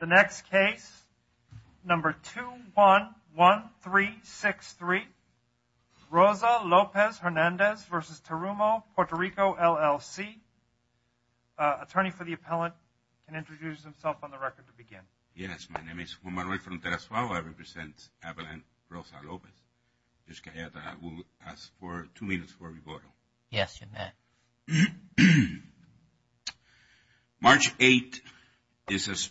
The next case, number 211363, Rosa-Lopez-Hernandez v. Terumo Puerto Rico LLC. Attorney for the appellant can introduce himself on the record to begin. Yes, my name is Juan Manuel Fronterazoa. I represent Abilene Rosa-Lopez. I will ask for two minutes for rebuttal. Yes, you may. March 8th is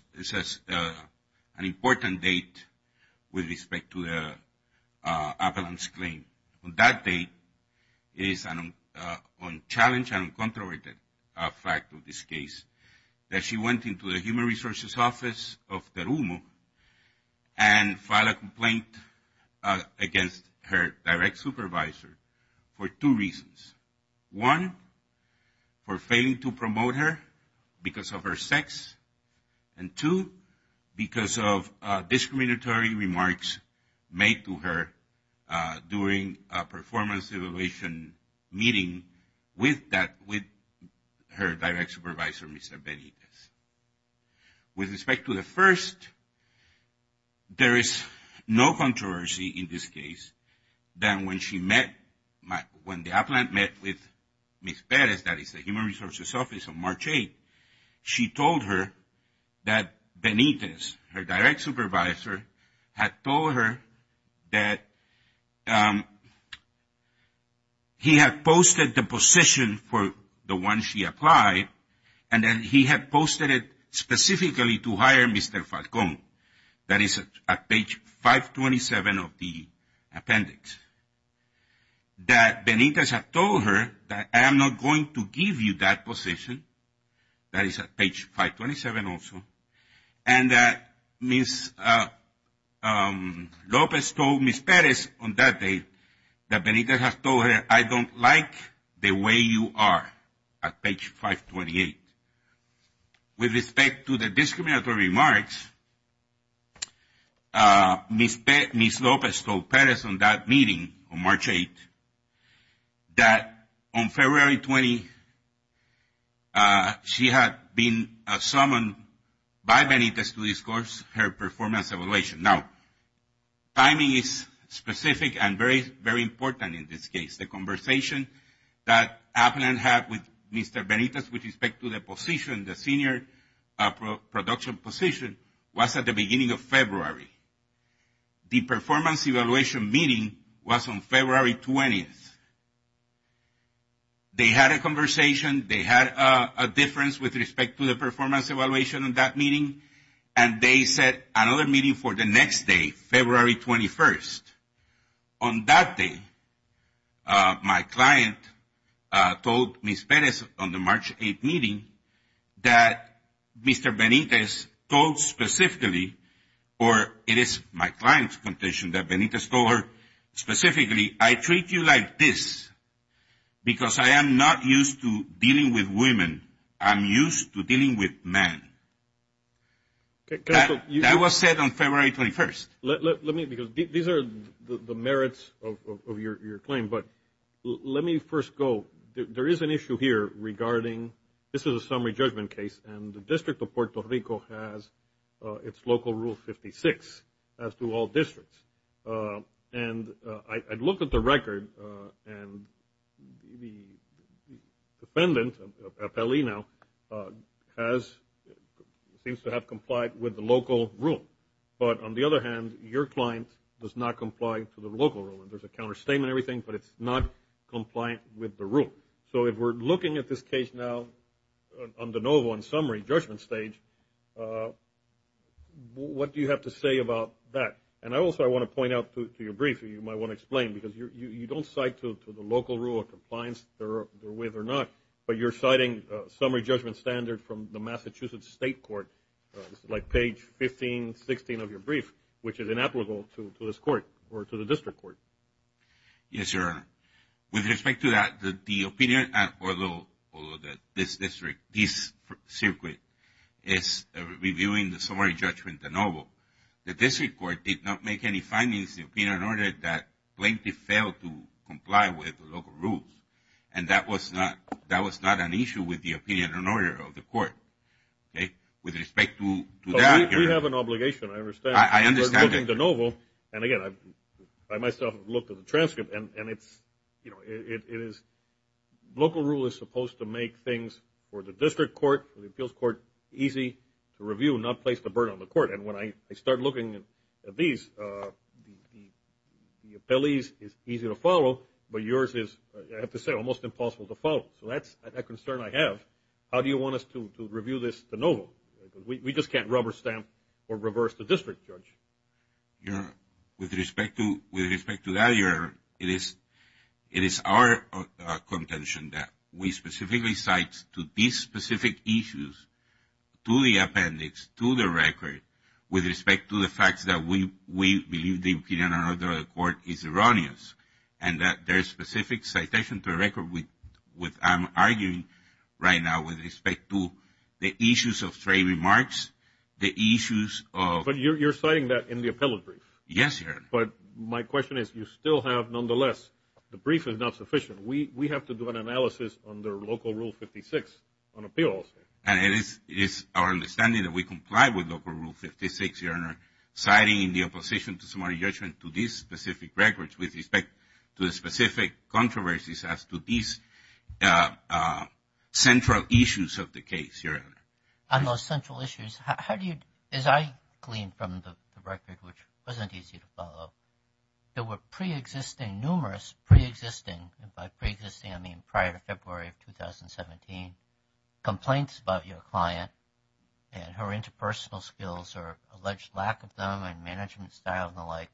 an important date with respect to the appellant's claim. On that date, it is unchallenged and uncontroverted fact of this case that she went into the Human Resources Office of Terumo and filed a complaint against her direct supervisor for two reasons. One, for failing to promote her because of her sex, and two, because of discriminatory remarks made to her during a performance evaluation meeting with her direct supervisor, Mr. Benitez. With respect to the first, there is no controversy in this case than when she met, when the appellant met with Ms. Perez, that is the Human Resources Office on March 8th, she told her that Benitez, her direct supervisor, had told her that he had posted the position for the one she applied and that he had posted it specifically to hire Mr. Falcón. That is at page 527 of the appendix. That Benitez had told her that I am not going to give you that position. That is at page 527 also. And that Ms. Lopez told Ms. Perez on that date that Benitez had told her, I don't like the way you are at page 528. With respect to the discriminatory remarks, Ms. Lopez told Perez on that meeting on March 8th that on February 20th she had been summoned by Benitez to discourse her performance evaluation. Now, timing is specific and very, very important in this case. The conversation that appellant had with Mr. Benitez with respect to the position, the senior production position, was at the beginning of February. The performance evaluation meeting was on February 20th. They had a conversation. They had a difference with respect to the performance evaluation on that meeting, and they set another meeting for the next day, February 21st. On that day, my client told Ms. Perez on the March 8th meeting that Mr. Benitez told specifically, or it is my client's condition that Benitez told her specifically, I treat you like this because I am not used to dealing with women. I'm used to dealing with men. That was said on February 21st. Let me, because these are the merits of your claim, but let me first go. There is an issue here regarding, this is a summary judgment case, and the District of Puerto Rico has its local rule 56, as do all districts. And I looked at the record, and the defendant, appellee now, seems to have complied with the local rule. But on the other hand, your client does not comply to the local rule. There's a counter statement and everything, but it's not compliant with the rule. So if we're looking at this case now on the NOVA on summary judgment stage, what do you have to say about that? And also I want to point out to your briefer, you might want to explain, because you don't cite to the local rule of compliance with or not, but you're citing summary judgment standard from the Massachusetts State Court, like page 15, 16 of your brief, which is inapplicable to this court or to the district court. Yes, Your Honor. With respect to that, the opinion, although this district, this circuit, is reviewing the summary judgment, the NOVA, the district court did not make any findings in the opinion and order that plaintiff failed to comply with the local rules. And that was not an issue with the opinion and order of the court. Okay? With respect to that, Your Honor. We have an obligation. I understand. I understand. And again, I myself have looked at the transcript, and it's, you know, it is local rule is supposed to make things for the district court, for the appeals court, easy to review, not place the burden on the court. And when I start looking at these, the appellee's is easy to follow, but yours is, I have to say, almost impossible to follow. So that's a concern I have. How do you want us to review this NOVA? We just can't rubber stamp or reverse the district, Judge. Your Honor, with respect to that, it is our contention that we specifically cite to these specific issues, to the appendix, to the record, with respect to the fact that we believe the opinion and order of the court is with respect to the issues of stray remarks, the issues of But you're citing that in the appellate brief. Yes, Your Honor. But my question is, you still have, nonetheless, the brief is not sufficient. We have to do an analysis under local rule 56 on appeals. And it is our understanding that we comply with local rule 56, Your Honor, citing the opposition to summary judgment to these specific records with respect to the specific controversies as to these central issues of the case, Your Honor. On those central issues, how do you, as I gleaned from the record, which wasn't easy to follow, there were pre-existing, numerous pre-existing, and by pre-existing I mean prior to February of 2017, complaints about your client and her interpersonal skills or alleged lack of them and management style and the like.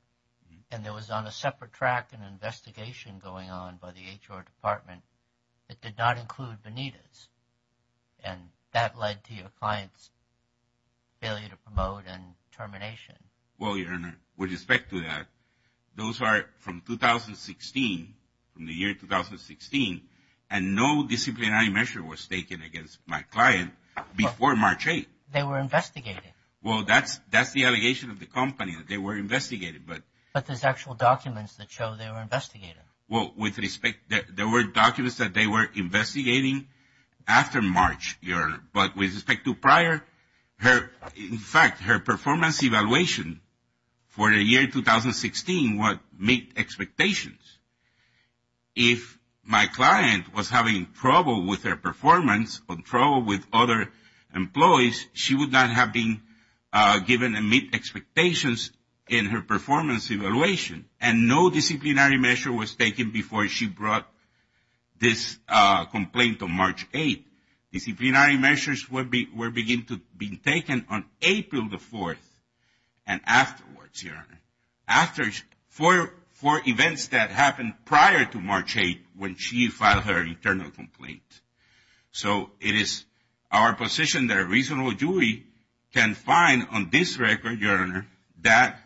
And there was on a separate track an investigation going on by the HR Department that did not include Benitez. And that led to your client's failure to promote and termination. Well, Your Honor, with respect to that, those are from 2016, from the year 2016, and no disciplinary measure was taken against my client before March 8th. They were investigated. Well, that's the allegation of the company, that they were investigated. But there's actual documents that show they were investigated. Well, with respect, there were documents that they were investigating after March, Your Honor. But with respect to prior, in fact, her performance evaluation for the year 2016 would meet expectations. If my client was having trouble with her performance or trouble with other employees, she would not have been given and meet expectations in her performance evaluation. And no disciplinary measure was taken before she brought this complaint on March 8th. Disciplinary measures were being taken on April the 4th and afterwards, Your Honor. After four events that happened prior to March 8th when she filed her internal complaint. So it is our position that a reasonable jury can find on this record, Your Honor, that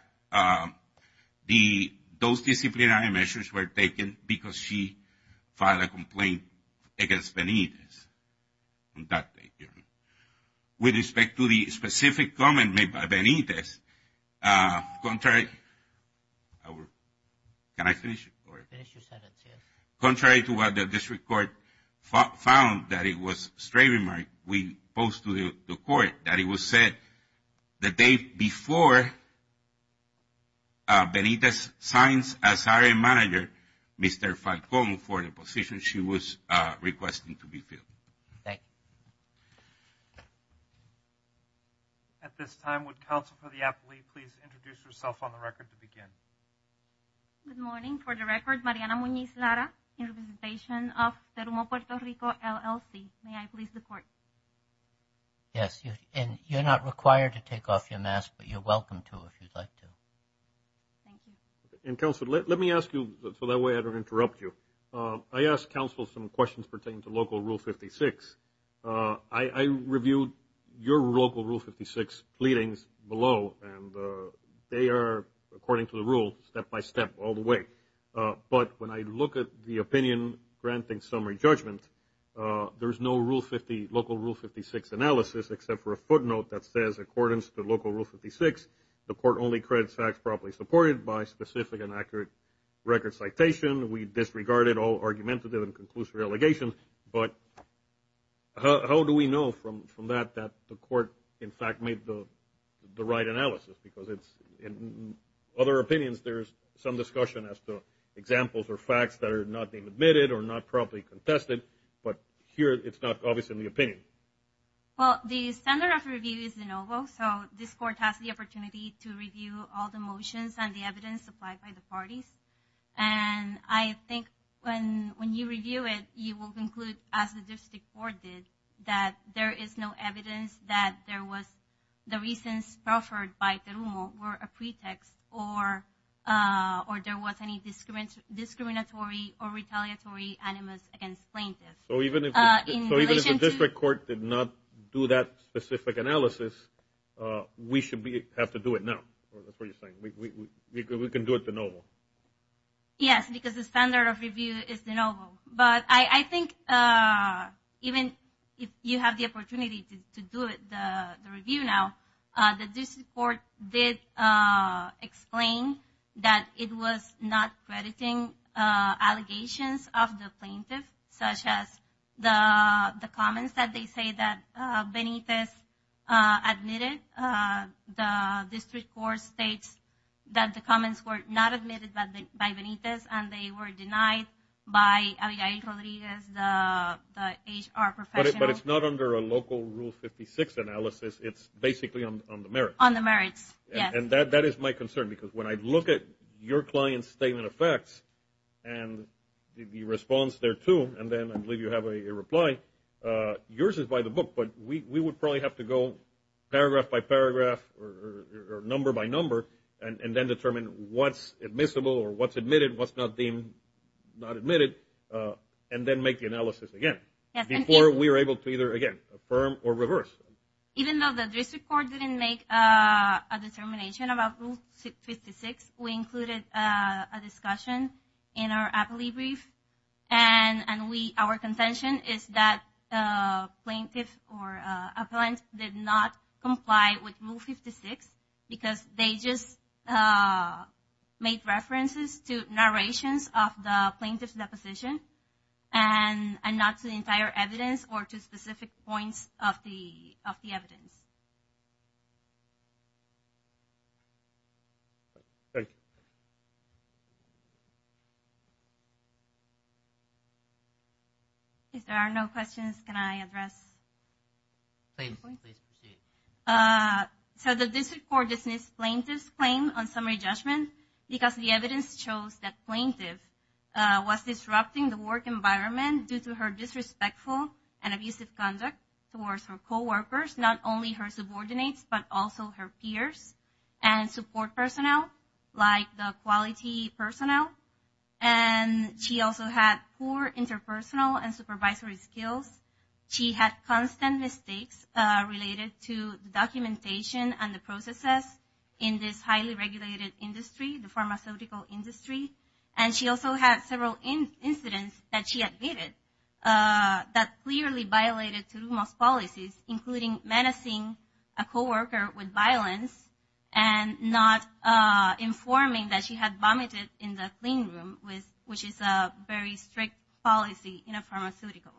those disciplinary measures were taken because she filed a complaint against Benitez on that date, Your Honor. With respect to the specific comment made by Benitez, contrary to what the district court found that it was a stray remark, we posed to the court that it was said the day before Benitez signs as hiring manager, Mr. Falcone, for the position she was requesting to be filled. Thank you. At this time, would counsel for the appellee please introduce herself on the record to begin? Good morning. For the record, Mariana Muñiz Lara, in representation of the Puerto Rico LLC. May I please report? Yes. And you're not required to take off your mask, but you're welcome to if you'd like to. Thank you. And counsel, let me ask you, so that way I don't interrupt you. I asked counsel some questions pertaining to Local Rule 56. I reviewed your Local Rule 56 pleadings below, and they are, according to the rule, step-by-step all the way. But when I look at the opinion granting summary judgment, there is no Local Rule 56 analysis, except for a footnote that says, accordance to Local Rule 56, the court only credits acts properly supported by specific and accurate record citation. We disregarded all argumentative and conclusive allegations. But how do we know from that that the court, in fact, made the right analysis? Because in other opinions, there is some discussion as to examples or facts that are not being admitted or not properly contested, but here it's not obvious in the opinion. Well, the standard of review is de novo. So this court has the opportunity to review all the motions and the evidence supplied by the parties. And I think when you review it, you will conclude, as the district court did, that there is no evidence that there was the reasons offered by Terumo were a pretext or there was any discriminatory or retaliatory animus against plaintiffs. So even if the district court did not do that specific analysis, we should have to do it now. That's what you're saying. We can do it de novo. Yes, because the standard of review is de novo. But I think even if you have the opportunity to do the review now, the district court did explain that it was not crediting allegations of the plaintiff, such as the comments that they say that Benitez admitted. The district court states that the comments were not admitted by Benitez and they were denied by Abigail Rodriguez, the HR professional. But it's not under a local Rule 56 analysis. It's basically on the merits. On the merits, yes. And that is my concern because when I look at your client's statement of facts and the response there, too, and then I believe you have a reply, yours is by the book. But we would probably have to go paragraph by paragraph or number by number and then determine what's admissible or what's admitted, what's not deemed not admitted, and then make the analysis again before we are able to either, again, affirm or reverse. Even though the district court didn't make a determination about Rule 56, we included a discussion in our appellee brief, and our contention is that a plaintiff or an appellant did not comply with Rule 56 because they just made references to narrations of the plaintiff's deposition and not to the entire evidence or to specific points of the evidence. If there are no questions, can I address the point? Please proceed. So the district court dismissed plaintiff's claim on summary judgment because the evidence shows that plaintiff was disrupting the work environment due to her disrespectful and abusive conduct towards her coworkers, not only her subordinates but also her peers and support personnel like the quality personnel. And she also had poor interpersonal and supervisory skills. She had constant mistakes related to documentation and the processes in this highly regulated industry, the pharmaceutical industry. And she also had several incidents that she admitted that clearly violated Terumo's policies, including menacing a coworker with violence and not informing that she had vomited in the clean room, which is a very strict policy in a pharmaceutical.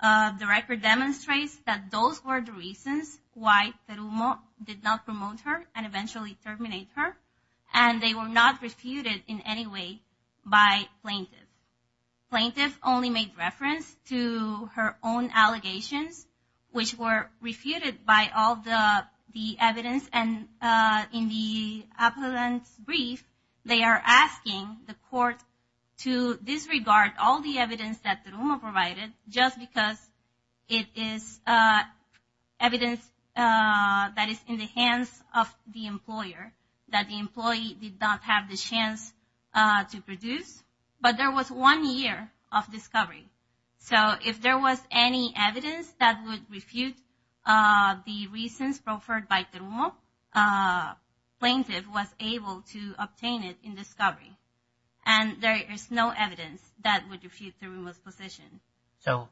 The record demonstrates that those were the reasons why Terumo did not promote her and eventually terminate her. And they were not refuted in any way by plaintiff. Plaintiff only made reference to her own allegations, which were refuted by all the evidence. And in the appellant's brief, they are asking the court to disregard all the evidence that Terumo provided just because it is evidence that is in the hands of the employer, that the employee did not have the chance to produce. But there was one year of discovery. So if there was any evidence that would refute the reasons proffered by Terumo, plaintiff was able to obtain it in discovery. And there is no evidence that would refute Terumo's position. So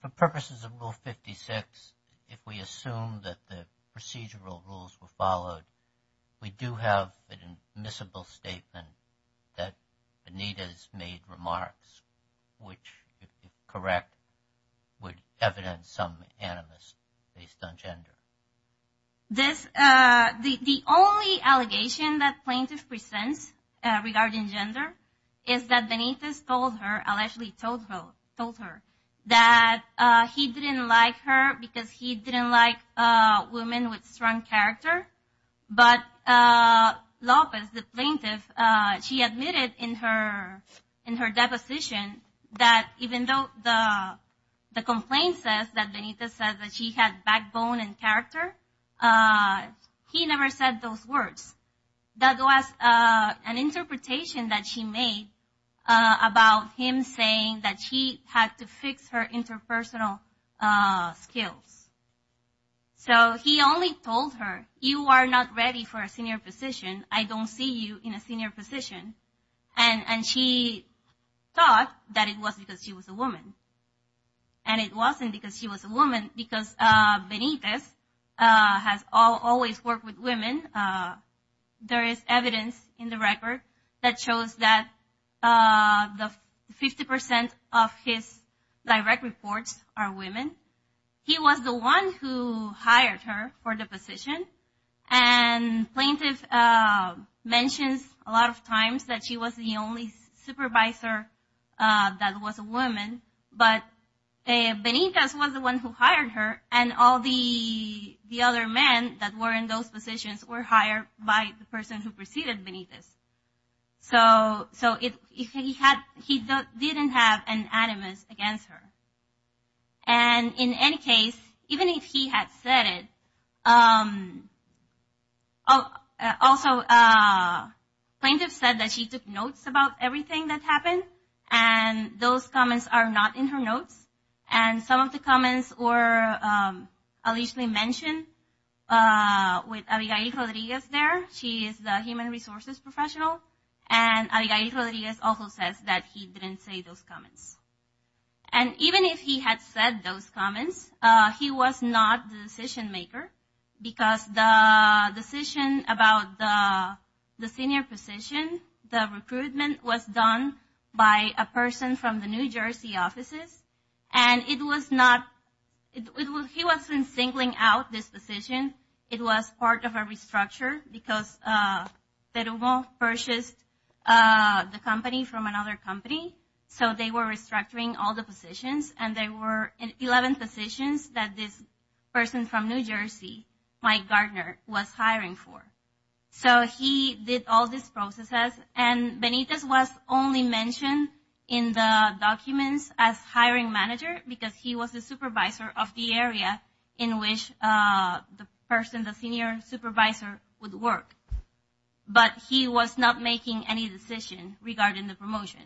for purposes of Rule 56, if we assume that the procedural rules were followed, we do have an admissible statement that Benitez made remarks, which, if correct, would evidence some animus based on gender. The only allegation that plaintiff presents regarding gender is that Benitez told her, allegedly told her, that he didn't like her because he didn't like women with strong character. But Lopez, the plaintiff, she admitted in her deposition that even though the complaint says that Benitez said that she had backbone and character, he never said those words. That was an interpretation that she made about him saying that she had to fix her interpersonal skills. So he only told her, you are not ready for a senior position, I don't see you in a senior position. And she thought that it was because she was a woman. And it wasn't because she was a woman, because Benitez has always worked with women. There is evidence in the record that shows that 50% of his direct reports are women. He was the one who hired her for the position, and plaintiff mentions a lot of times that she was the only supervisor that was a woman. But Benitez was the one who hired her, and all the other men that were in those positions were hired by the person who preceded Benitez. So he didn't have an animus against her. And in any case, even if he had said it, also plaintiff said that she took notes about everything that happened, and those comments are not in her notes. And some of the comments were allegedly mentioned with Abigail Rodriguez there. She is the human resources professional, and Abigail Rodriguez also says that he didn't say those comments. And even if he had said those comments, he was not the decision maker, because the decision about the senior position, the recruitment, was done by a person from the New Jersey offices. And it was not – he wasn't singling out this position. It was part of a restructure, because Terubo purchased the company from another company, so they were restructuring all the positions, and there were 11 positions that this person from New Jersey, Mike Gardner, was hiring for. So he did all these processes, and Benitez was only mentioned in the documents as hiring manager, because he was the supervisor of the area in which the person, the senior supervisor, would work. But he was not making any decision regarding the promotion.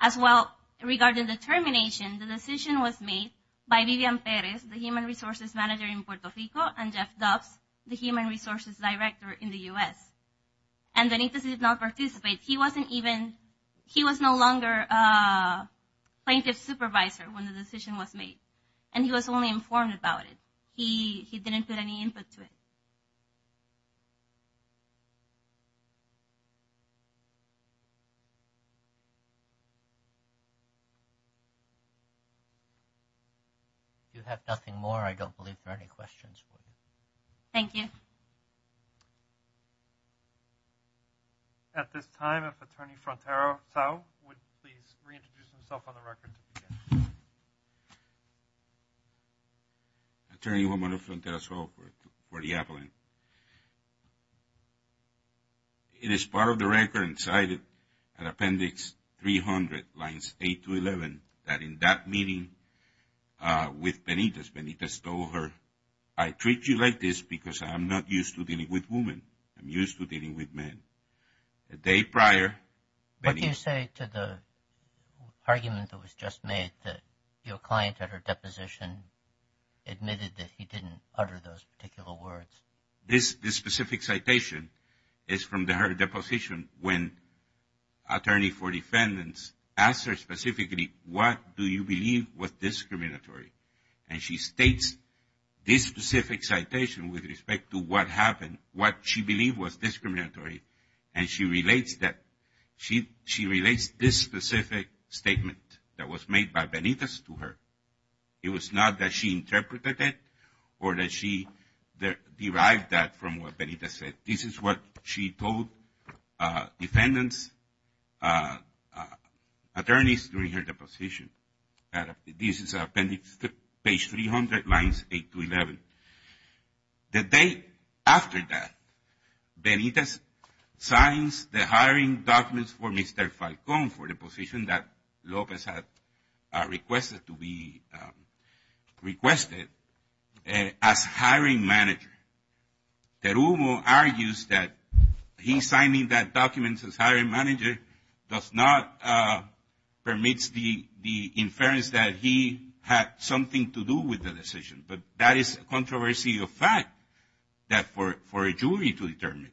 As well, regarding the termination, the decision was made by Vivian Perez, the human resources manager in Puerto Rico, and Jeff Dobbs, the human resources director in the U.S. And Benitez did not participate. He wasn't even – he was no longer plaintiff's supervisor when the decision was made, and he was only informed about it. He didn't put any input to it. If you have nothing more, I don't believe there are any questions for you. Thank you. At this time, if Attorney Frontero Tsao would please reintroduce himself on the record to begin. Attorney Juan Manuel Frontero Tsao for the appellant. It is part of the record and cited in Appendix 300, lines 8 to 11, that in that meeting with Benitez, Benitez told her, I treat you like this because I'm not used to dealing with women. I'm used to dealing with men. The day prior, Benitez – He didn't utter those particular words. This specific citation is from her deposition when attorney for defendants asked her specifically, what do you believe was discriminatory? And she states this specific citation with respect to what happened, what she believed was discriminatory, and she relates that – she relates this specific statement that was made by Benitez to her. It was not that she interpreted it or that she derived that from what Benitez said. This is what she told defendants, attorneys during her deposition. This is Appendix 300, lines 8 to 11. The day after that, Benitez signs the hiring documents for Mr. Falcón for the position that Lopez had requested to be requested as hiring manager. Terumo argues that he's signing that document as hiring manager does not – permits the inference that he had something to do with the decision, but that is a controversy of fact that for a jury to determine.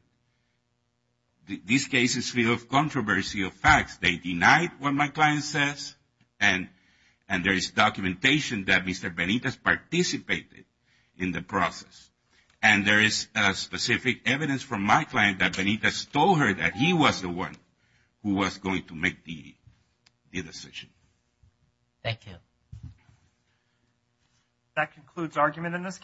These cases feel of controversy of facts. They denied what my client says, and there is documentation that Mr. Benitez participated in the process. And there is specific evidence from my client that Benitez told her that he was the one who was going to make the decision. Thank you. That concludes argument in this case.